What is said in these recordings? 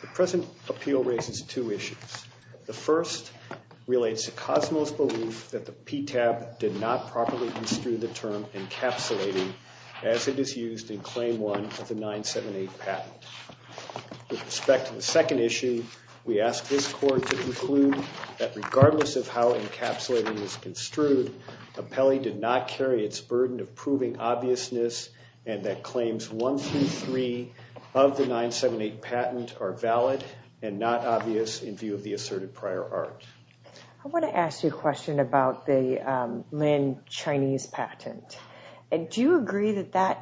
The present appeal raises two issues. The first relates to Cosmo's belief that the PTAB did not carry its burden of proving obviousness and that claims 1 through 3 of the 978 patent are valid and not obvious in view of the asserted prior art. I want to ask you a question about the Lin Chinese patent. Do you agree that that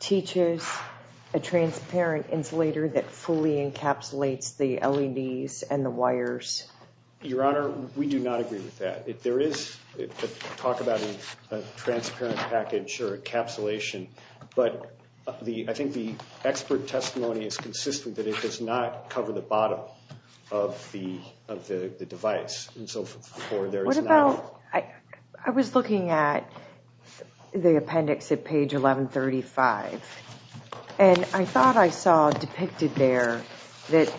teaches a transparent insulator that fully encapsulates the LEDs and the wires? Your Honor, we do not agree with that. There is talk about a transparent package or encapsulation, but I think the expert testimony is consistent that it does not cover the bottom of the device. I was looking at the appendix at page 1135 and I thought I saw depicted there that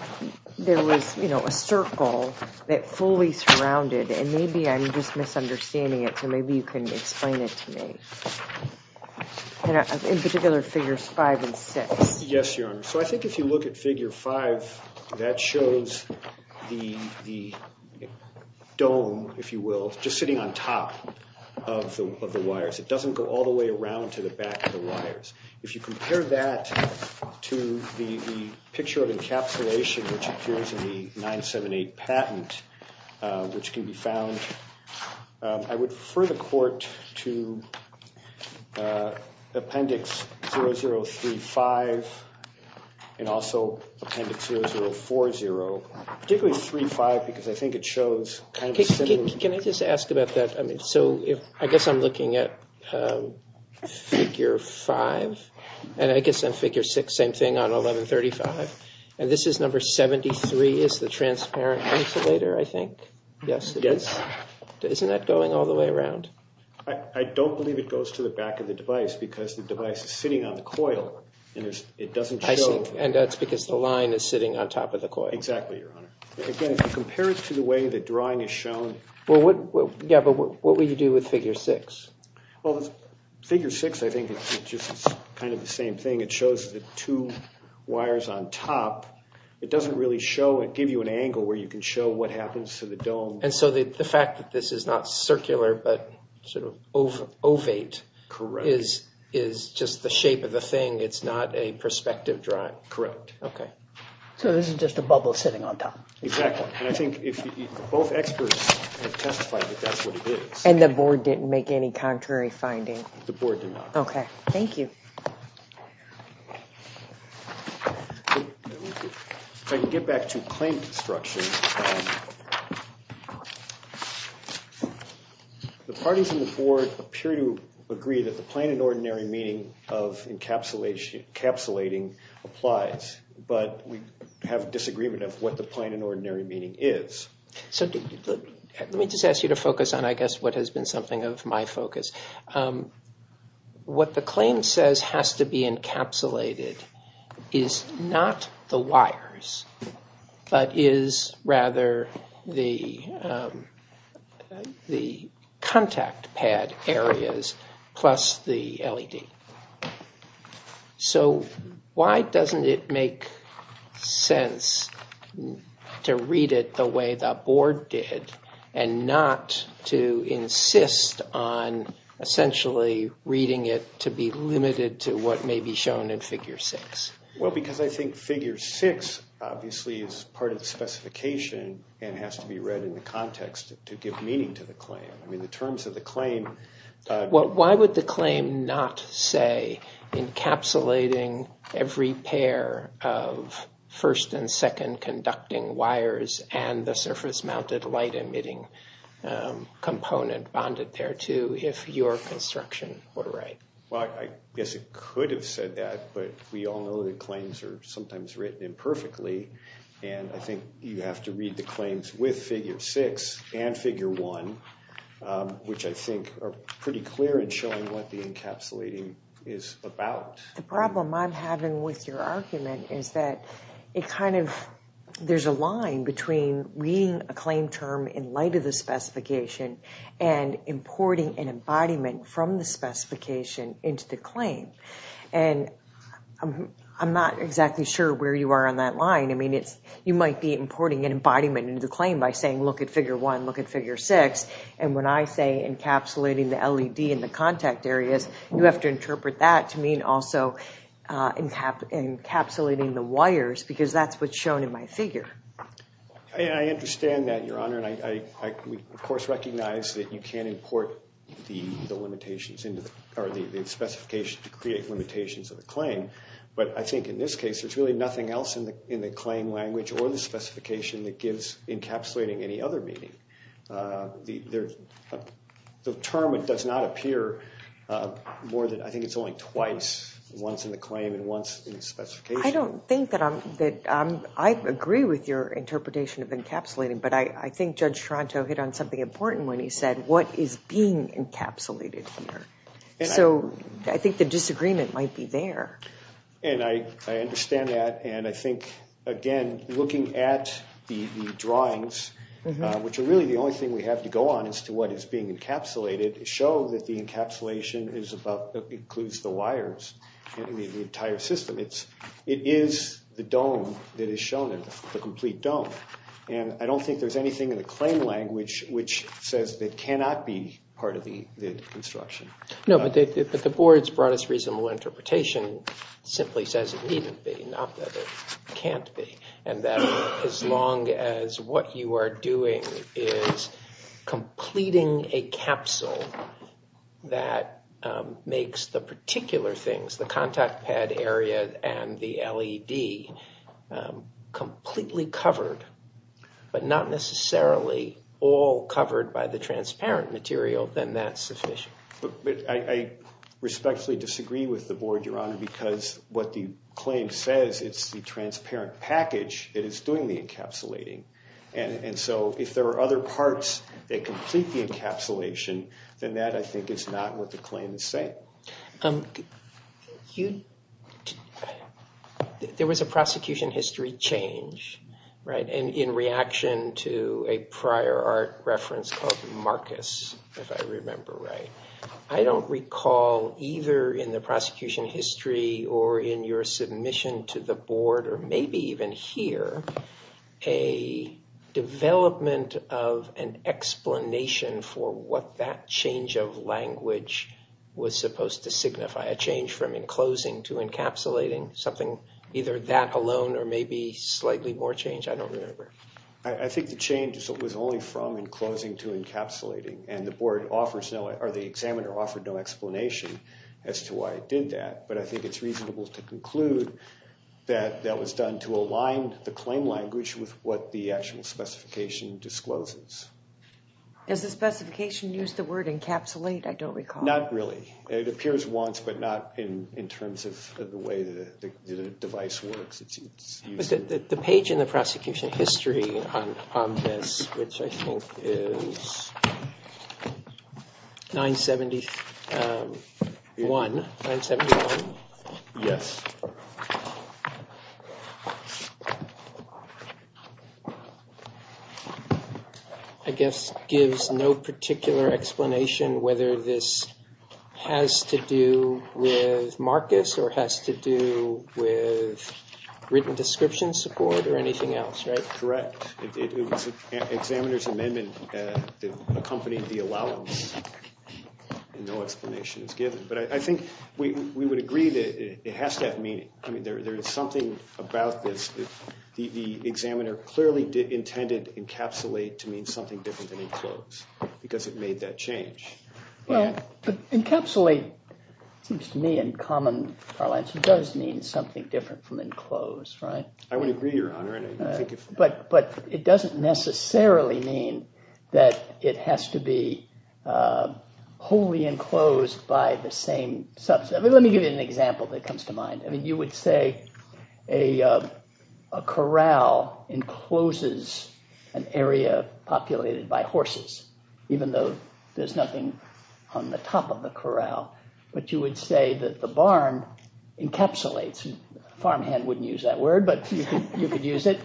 there was a circle that fully surrounded and maybe I'm just misunderstanding it so maybe you can explain it to me. In particular figures 5 and 6. Yes, Your Honor. So I think if you look at figure 5, that shows the dome, if you will, just sitting on top of the wires. It doesn't go all the way around to the back of the wires. If you compare that to the picture of encapsulation which appears in the 978 patent, which can be found, I would refer the court to appendix 0035 and also appendix 0040. Can I just ask about that? I guess I'm looking at figure 5 and I guess on figure 6, same thing on 1135, and this is number 73 is the transparent insulator, I think. Yes, it is. Isn't that going all the way around? I don't believe it goes to the back of the device because the device is sitting on the coil and it doesn't show. And that's because the line is sitting on top of the coil. Exactly, Your Honor. Again, if you compare it to the way the drawing is shown. Yeah, but what would you do with figure 6? Well, figure 6, I think it's just kind of the same thing. It shows the two wires on top. It doesn't really give you an angle where you can show what happens to the dome. And so the fact that this is not circular but sort of ovate is just the shape of the thing. It's not a perspective drawing. Correct. So this is just a bubble sitting on top. Exactly, and I think both experts have testified that that's what it is. And the board didn't make any contrary findings? The board did not. Okay, thank you. If I can get back to claim construction, the parties in the board appear to agree that the plain and ordinary meaning of encapsulating applies, but we have a disagreement of what the plain and ordinary meaning is. So let me just ask you to focus on I guess what has been something of my focus. What the claim says has to be encapsulated is not the wires, but is rather the contact pad areas plus the LED. So why doesn't it make sense to read it the way the board did and not to insist on essentially reading it to be limited to what may be shown in figure six? Well, because I think figure six obviously is part of the specification and has to be read in the context to give meaning to the claim. Why would the claim not say encapsulating every pair of first and second conducting wires and the surface mounted light emitting component bonded thereto if your construction were right? Well, I guess it could have said that, but we all know that claims are sometimes written imperfectly. And I think you have to read the claims with figure six and figure one, which I think are pretty clear in showing what the encapsulating is about. The problem I'm having with your argument is that there's a line between reading a claim term in light of the specification and importing an embodiment from the specification into the claim. And I'm not exactly sure where you are on that line. I mean, you might be importing an embodiment into the claim by saying, look at figure one, look at figure six. And when I say encapsulating the LED in the contact areas, you have to interpret that to mean also encapsulating the wires because that's what's shown in my figure. I understand that, Your Honor. And I, of course, recognize that you can't import the limitations into the specification to create limitations of the claim. But I think in this case, there's really nothing else in the claim language or the specification that gives encapsulating any other meaning. The term does not appear more than, I think it's only twice, once in the claim and once in the specification. I don't think that I agree with your interpretation of encapsulating. But I think Judge Toronto hit on something important when he said, what is being encapsulated here? So I think the disagreement might be there. And I understand that. And I think, again, looking at the drawings, which are really the only thing we have to go on as to what is being encapsulated, show that the encapsulation includes the wires in the entire system. It is the dome that is shown there, the complete dome. And I don't think there's anything in the claim language which says that cannot be part of the construction. No, but the board's broadest reasonable interpretation simply says it needn't be, not that it can't be. And that as long as what you are doing is completing a capsule that makes the particular things, the contact pad area and the LED, completely covered, but not necessarily all covered by the transparent material, then that's sufficient. But I respectfully disagree with the board, Your Honor, because what the claim says, it's the transparent package that is doing the encapsulating. And so if there are other parts that complete the encapsulation, then that, I think, is not what the claim is saying. There was a prosecution history change, right, in reaction to a prior art reference called Marcus, if I remember right. I don't recall either in the prosecution history or in your submission to the board, or maybe even here, a development of an explanation for what that change of language was supposed to signify. A change from enclosing to encapsulating, something either that alone or maybe slightly more change, I don't remember. I think the change was only from enclosing to encapsulating, and the board offers no, or the examiner offered no explanation as to why it did that. But I think it's reasonable to conclude that that was done to align the claim language with what the actual specification discloses. Does the specification use the word encapsulate? I don't recall. Not really. It appears once, but not in terms of the way the device works. The page in the prosecution history on this, which I think is 971, I guess, gives no particular explanation whether this has to do with Marcus or has to do with written description support or anything else, right? Correct. It was the examiner's amendment that accompanied the allowance, and no explanation is given. But I think we would agree that it has to have meaning. I mean, there is something about this. The examiner clearly intended encapsulate to mean something different than enclose because it made that change. Encapsulate seems to me, in common parlance, does mean something different from enclose, right? I would agree, Your Honor. But it doesn't necessarily mean that it has to be wholly enclosed by the same subset. Let me give you an example that comes to mind. I mean, you would say a corral encloses an area populated by horses, even though there's nothing on the top of the corral. But you would say that the barn encapsulates, farmhand wouldn't use that word, but you could use it,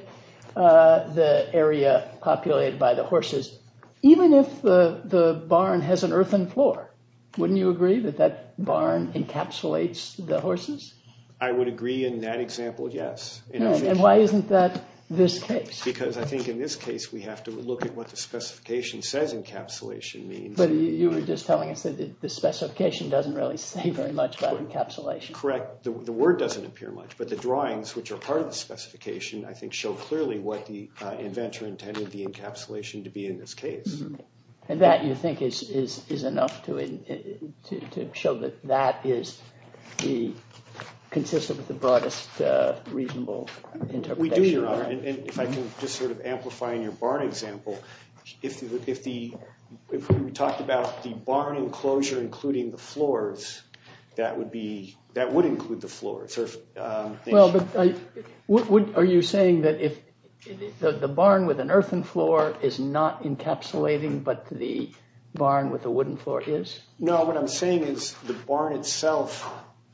the area populated by the horses. Even if the barn has an earthen floor, wouldn't you agree that that barn encapsulates the horses? I would agree in that example, yes. And why isn't that this case? Because I think in this case, we have to look at what the specification says encapsulation means. But you were just telling us that the specification doesn't really say very much about encapsulation. Correct. The word doesn't appear much, but the drawings, which are part of the specification, I think show clearly what the inventor intended the encapsulation to be in this case. And that, you think, is enough to show that that is consistent with the broadest reasonable interpretation? We do, Your Honor. And if I can just sort of amplify in your barn example, if we talked about the barn enclosure including the floors, that would include the floors. Well, but are you saying that if the barn with an earthen floor is not encapsulating, but the barn with a wooden floor is? No, what I'm saying is the barn itself,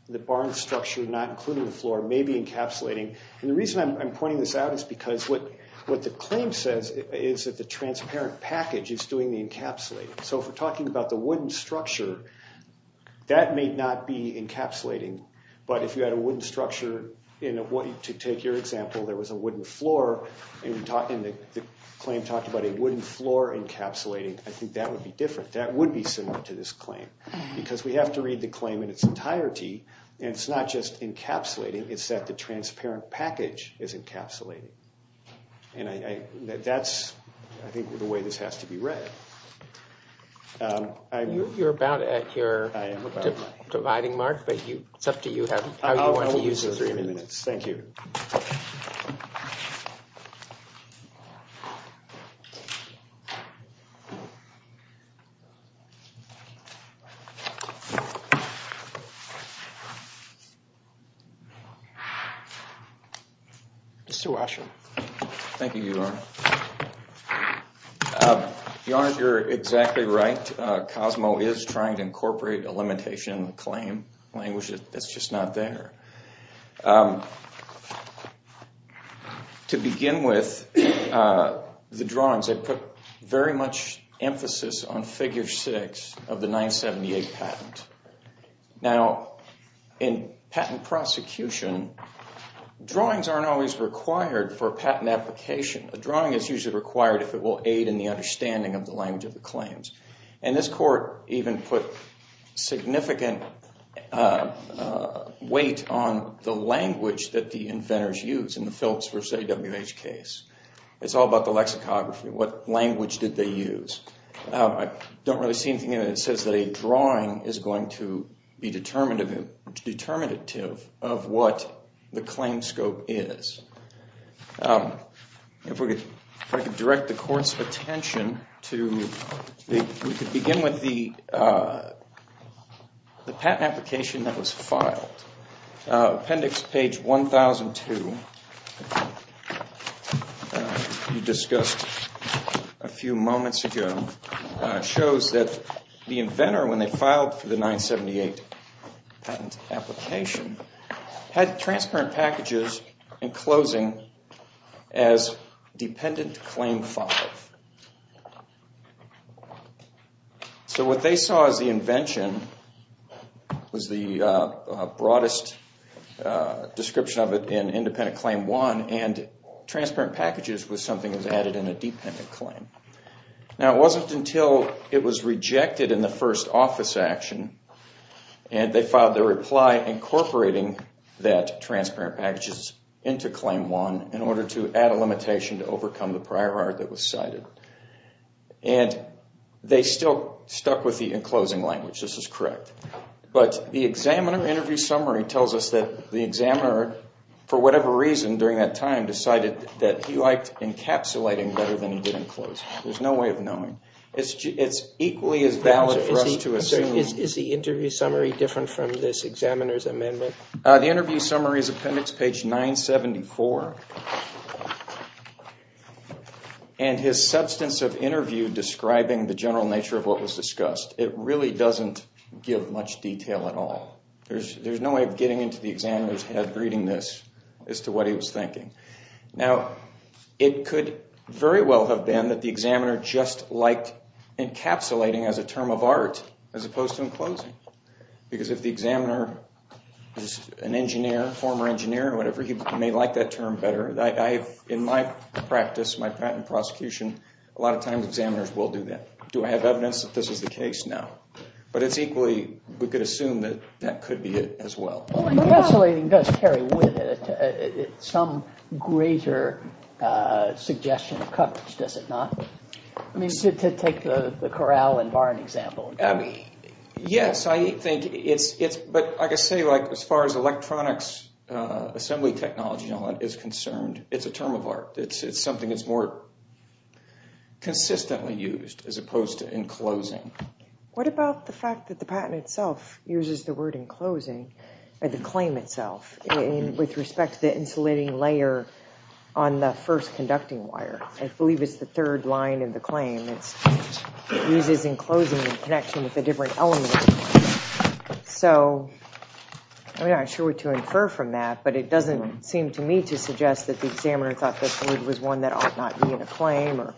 the barn structure not including the floor, may be encapsulating. And the reason I'm pointing this out is because what the claim says is that the transparent package is doing the encapsulating. So if we're talking about the wooden structure, that may not be encapsulating. But if you had a wooden structure, to take your example, there was a wooden floor and the claim talked about a wooden floor encapsulating, I think that would be different. That would be similar to this claim because we have to read the claim in its entirety. And it's not just encapsulating, it's that the transparent package is encapsulating. And that's, I think, the way this has to be read. You're about at your dividing mark, but it's up to you how you want to use the three minutes. Thank you. Mr. Washer. Thank you, Your Honor. Your Honor, you're exactly right. Cosmo is trying to incorporate a limitation in the claim language that's just not there. To begin with, the drawings, I put very much emphasis on figure six of the 978 patent. Now, in patent prosecution, drawings aren't always required for patent application. A drawing is usually required if it will aid in the understanding of the language of the claims. And this court even put significant weight on the language that the inventors used in the Phillips v. AWH case. It's all about the lexicography, what language did they use. I don't really see anything in it that says that a drawing is going to be determinative of what the claim scope is. If I could direct the court's attention to, we could begin with the patent application that was filed. Appendix page 1002, you discussed a few moments ago, shows that the inventor, when they filed for the 978 patent application, had transparent packages and closing as dependent claim five. So what they saw as the invention was the broadest description of it in independent claim one, and transparent packages was something that was added in a dependent claim. Now, it wasn't until it was rejected in the first office action, and they filed their reply incorporating that transparent packages into claim one in order to add a limitation to overcome the prior art that was cited. And they still stuck with the enclosing language, this is correct. But the examiner interview summary tells us that the examiner, for whatever reason during that time, decided that he liked encapsulating better than he did enclosing. There's no way of knowing. It's equally as valid for us to assume... Is the interview summary different from this examiner's amendment? The interview summary is appendix page 974. And his substance of interview describing the general nature of what was discussed, it really doesn't give much detail at all. There's no way of getting into the examiner's head reading this as to what he was thinking. Now, it could very well have been that the examiner just liked encapsulating as a term of art as opposed to enclosing. Because if the examiner is an engineer, former engineer or whatever, he may like that term better. In my practice, my patent prosecution, a lot of times examiners will do that. Do I have evidence that this is the case? No. But it's equally, we could assume that that could be it as well. Encapsulating does carry with it some greater suggestion of coverage, does it not? I mean, to take the Corral and Barn example. Yes, I think it's... But like I say, as far as electronics, assembly technology and all that is concerned, it's a term of art. It's something that's more consistently used as opposed to enclosing. What about the fact that the patent itself uses the word enclosing, or the claim itself, with respect to the insulating layer on the first conducting wire? I believe it's the third line in the claim. It uses enclosing in connection with the different elements. So, I mean, I'm not sure what to infer from that, but it doesn't seem to me to suggest that the examiner thought this word was one that ought not be in a claim or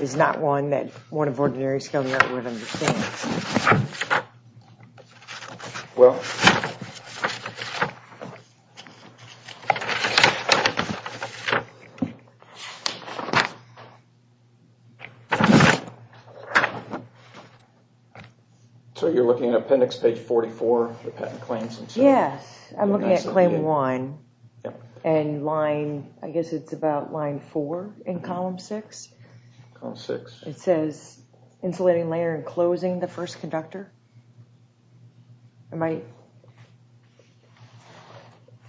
is not one that one of ordinary skilled art would understand. Well... Yes. So you're looking at appendix page 44, the patent claims? Yes, I'm looking at claim one. And line, I guess it's about line four in column six. Column six. It says insulating layer enclosing the first conductor. Am I...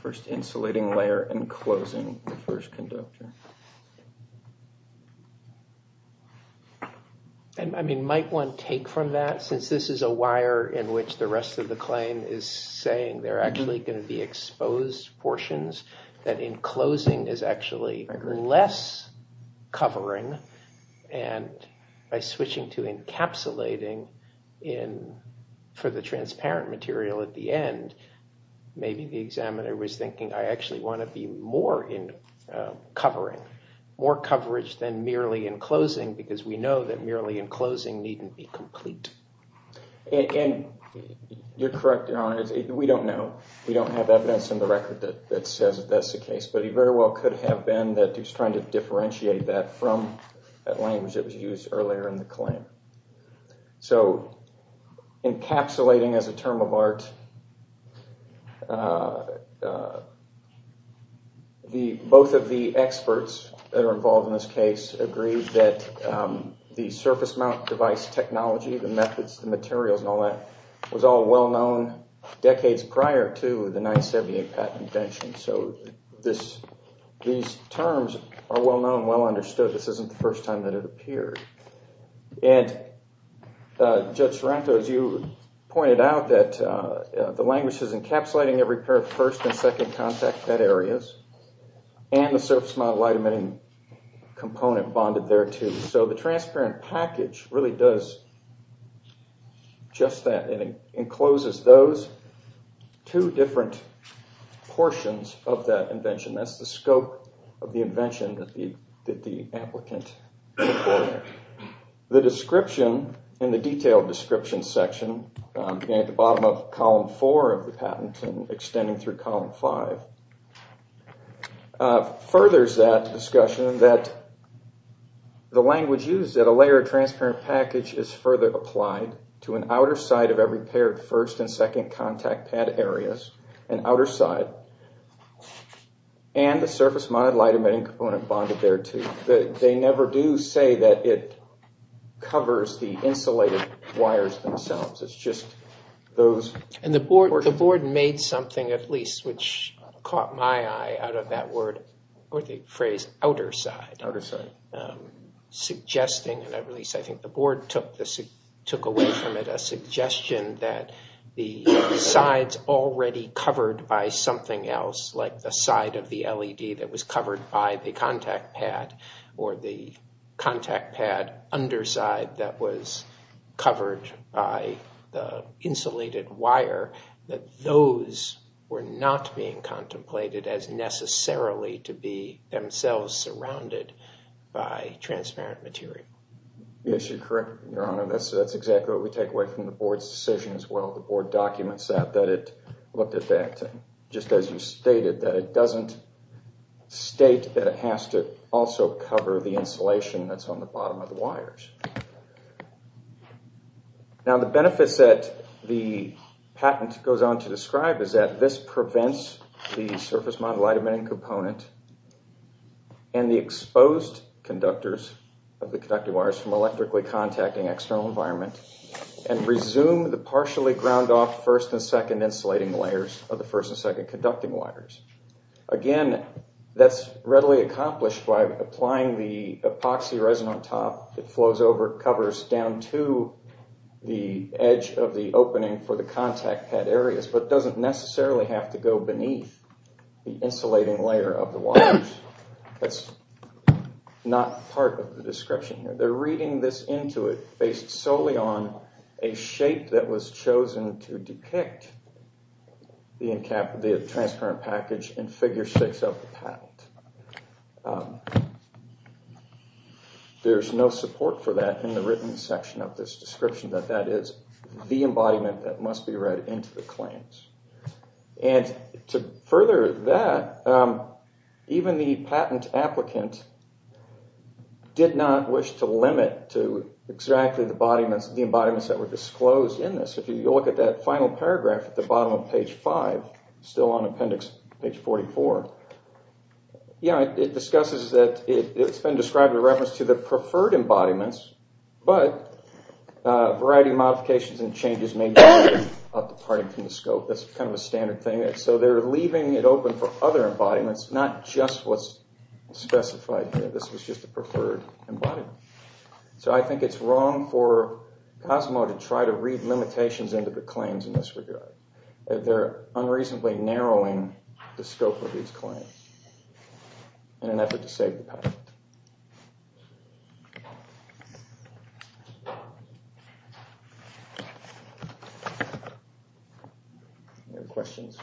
First insulating layer enclosing the first conductor. And, I mean, might one take from that, since this is a wire in which the rest of the claim is saying they're actually going to be exposed portions, that enclosing is actually less covering, and by switching to encapsulating for the transparent material at the end, maybe the examiner was thinking I actually want to be more in covering, more coverage than merely enclosing, because we know that merely enclosing needn't be complete. And you're correct, Your Honor. We don't know. We don't have evidence in the record that says that that's the case, but it very well could have been that he was trying to differentiate that from that language that was used earlier in the claim. So, encapsulating as a term of art, both of the experts that are involved in this case agree that the surface mount device technology, the methods, the materials, and all that, was all well-known decades prior to the 978 patent invention. So these terms are well-known, well-understood. This isn't the first time that it appeared. And Judge Sorrento, as you pointed out, that the language is encapsulating every pair of first and second contact bed areas, and the surface mount light emitting component bonded there, too. So the transparent package really does just that. It encloses those two different portions of that invention. That's the scope of the invention that the applicant reported. The description in the detailed description section, at the bottom of column four of the patent and extending through column five, furthers that discussion that the language used, that a layer of transparent package is further applied to an outer side of every pair of first and second contact pad areas, an outer side, and the surface mount light emitting component bonded there, too. They never do say that it covers the insulated wires themselves. It's just those. And the board made something, at least, which caught my eye out of that word, or the phrase, outer side. Outer side. Suggesting, and at least I think the board took away from it, a suggestion that the sides already covered by something else, like the side of the LED that was covered by the contact pad, or the contact pad underside that was covered by the insulated wire, that those were not being contemplated as necessarily to be themselves surrounded by transparent material. Yes, you're correct, Your Honor. That's exactly what we take away from the board's decision as well. The board documents that, that it looked at that, just as you stated, that it doesn't state that it has to also cover the insulation that's on the bottom of the wires. Now, the benefits that the patent goes on to describe is that this prevents the surface mount light emitting component and the exposed conductors of the conducting wires from electrically contacting external environment and resume the partially ground off first and second insulating layers of the first and second conducting wires. Again, that's readily accomplished by applying the epoxy resin on top, it flows over, it covers down to the edge of the opening for the contact pad areas, but doesn't necessarily have to go beneath the insulating layer of the wires. That's not part of the description here. They're reading this into it based solely on a shape that was chosen to depict the transparent package in figure six of the patent. There's no support for that in the written section of this description, that that is the embodiment that must be read into the claims. And to further that, even the patent applicant did not wish to limit to exactly the embodiments that were disclosed in this. If you look at that final paragraph at the bottom of page five, still on appendix page 44, it discusses that it's been described with reference to the preferred embodiments, but a variety of modifications and changes may be needed out departing from the scope. That's kind of a standard thing. So they're leaving it open for other embodiments, not just what's specified here. This was just a preferred embodiment. So I think it's wrong for Cosmo to try to read limitations into the claims in this regard. They're unreasonably narrowing the scope of these claims in an effort to save the patent. Any questions?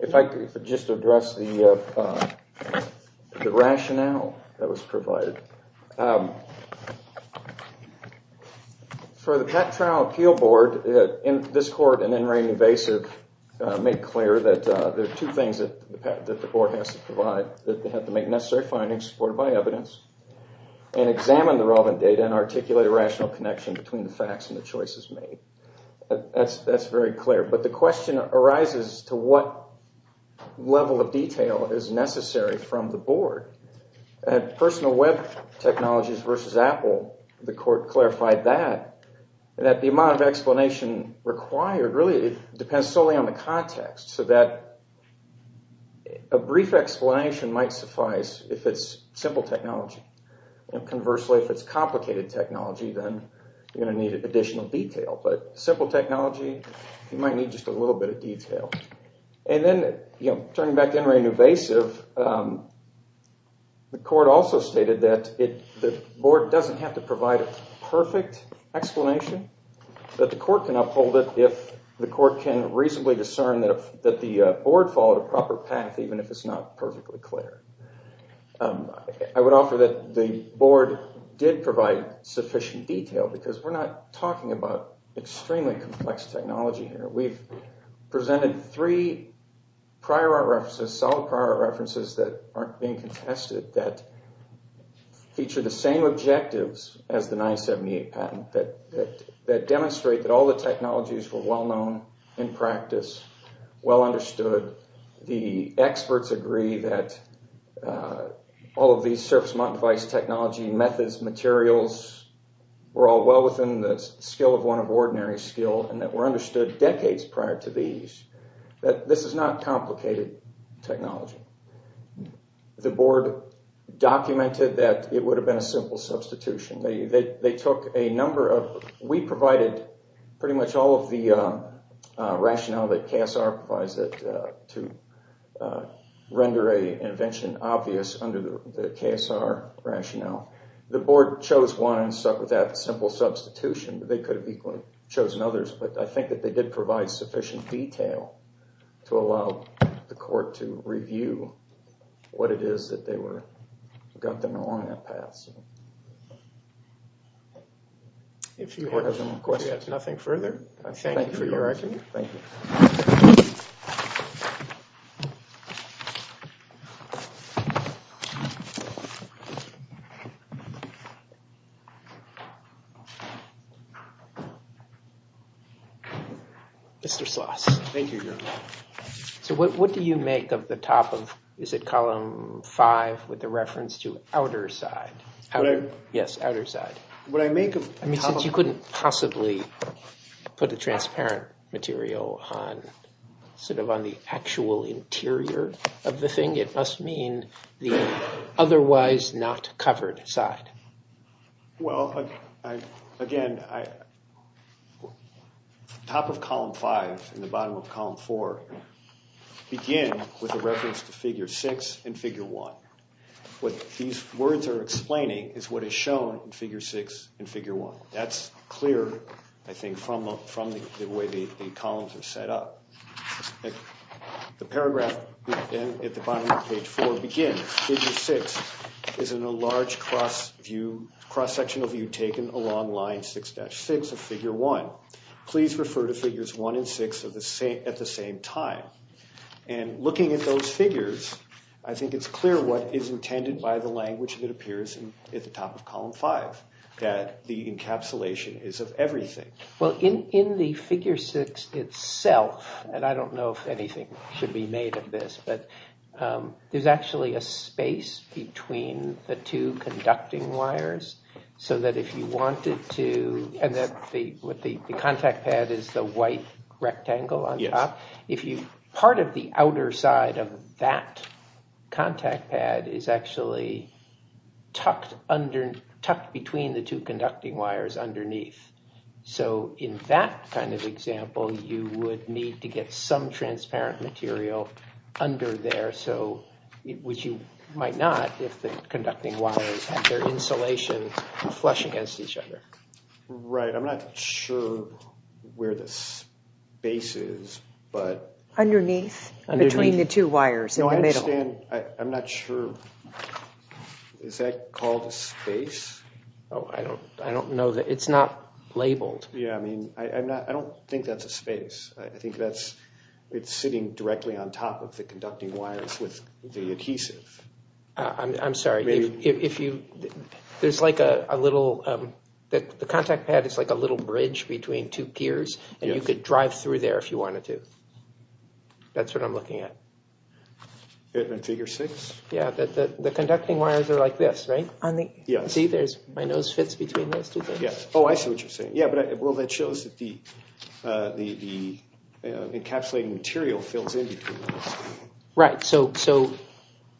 If I could just address the rationale that was provided. For the Patent Trial Appeal Board, this court and NRA Invasive make clear that there are two things that the board has to provide. They have to make necessary findings supported by evidence and examine the relevant data and articulate a rational connection between the facts and the choices made. That's very clear. But the question arises to what level of detail is necessary from the board. At Personal Web Technologies v. Apple, the court clarified that the amount of explanation required really depends solely on the context so that a brief explanation might suffice if it's simple technology. Conversely, if it's complicated technology, then you're going to need additional detail. But simple technology, you might need just a little bit of detail. Turning back to NRA Invasive, the court also stated that the board doesn't have to provide a perfect explanation, but the court can uphold it if the court can reasonably discern that the board followed a proper path, even if it's not perfectly clear. I would offer that the board did provide sufficient detail because we're not talking about extremely complex technology here. We've presented three solid prior art references that aren't being contested that feature the same objectives as the 978 patent that demonstrate that all the technologies were well known in practice, well understood. The experts agree that all of these surface-mounted device technology methods, materials, were all well within the skill of one of ordinary skill and that were understood decades prior to these. This is not complicated technology. The board documented that it would have been a simple substitution. We provided pretty much all of the rationale that KSR provides to render an invention obvious under the KSR rationale. The board chose one and stuck with that simple substitution. They could have chosen others, but I think that they did provide sufficient detail to allow the court to review what it is that got them along that path. If you have any questions, nothing further. Thank you for your argument. Thank you. Mr. Sloss. Thank you, Your Honor. So what do you make of the top of, is it column five with the reference to outer side? Yes, outer side. What I make of... I mean, since you couldn't possibly put a transparent material on sort of on the actual interior of the thing, it must mean the otherwise not covered side. Well, again, the top of column five and the bottom of column four begin with a reference to figure six and figure one. What these words are explaining is what is shown in figure six and figure one. That's clear, I think, from the way the columns are set up. The paragraph at the bottom of page four begins, figure six is in a large cross sectional view taken along line 6-6 of figure one. Please refer to figures one and six at the same time. And looking at those figures, I think it's clear what is intended by the language that appears at the top of column five, that the encapsulation is of everything. Well, in the figure six itself, and I don't know if anything should be made of this, but there's actually a space between the two conducting wires, so that if you wanted to... The contact pad is the white rectangle on top. Part of the outer side of that contact pad is actually tucked between the two conducting wires underneath. So in that kind of example, you would need to get some transparent material under there, which you might not if the conducting wires and their insulation flush against each other. Right, I'm not sure where the space is, but... Underneath, between the two wires in the middle. No, I understand. I'm not sure. Is that called a space? Oh, I don't know. It's not labeled. Yeah, I mean, I don't think that's a space. I think it's sitting directly on top of the conducting wires with the adhesive. I'm sorry. There's like a little... The contact pad is like a little bridge between two gears, and you could drive through there if you wanted to. That's what I'm looking at. In figure six? Yeah, the conducting wires are like this, right? See, my nose fits between those two things. Oh, I see what you're saying. Yeah, well, that shows that the encapsulating material fills in between those. Right, so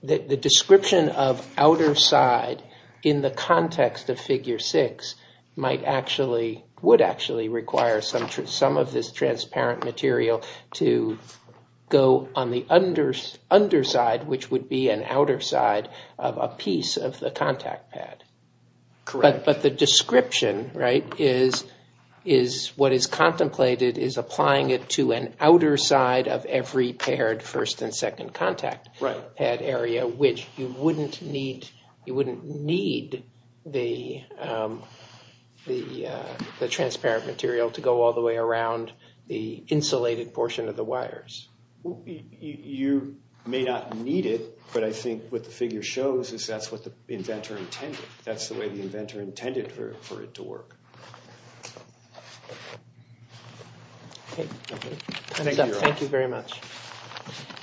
the description of outer side in the context of figure six would actually require some of this transparent material to go on the underside, which would be an outer side of a piece of the contact pad. Correct. But the description, right, is what is contemplated is applying it to an outer side of every paired first and second contact pad area, which you wouldn't need the transparent material to go all the way around the insulated portion of the wires. You may not need it, but I think what the figure shows is that's what the inventor intended. That's the way the inventor intended for it to work. Thank you very much.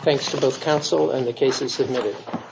Thanks to both counsel and the cases submitted.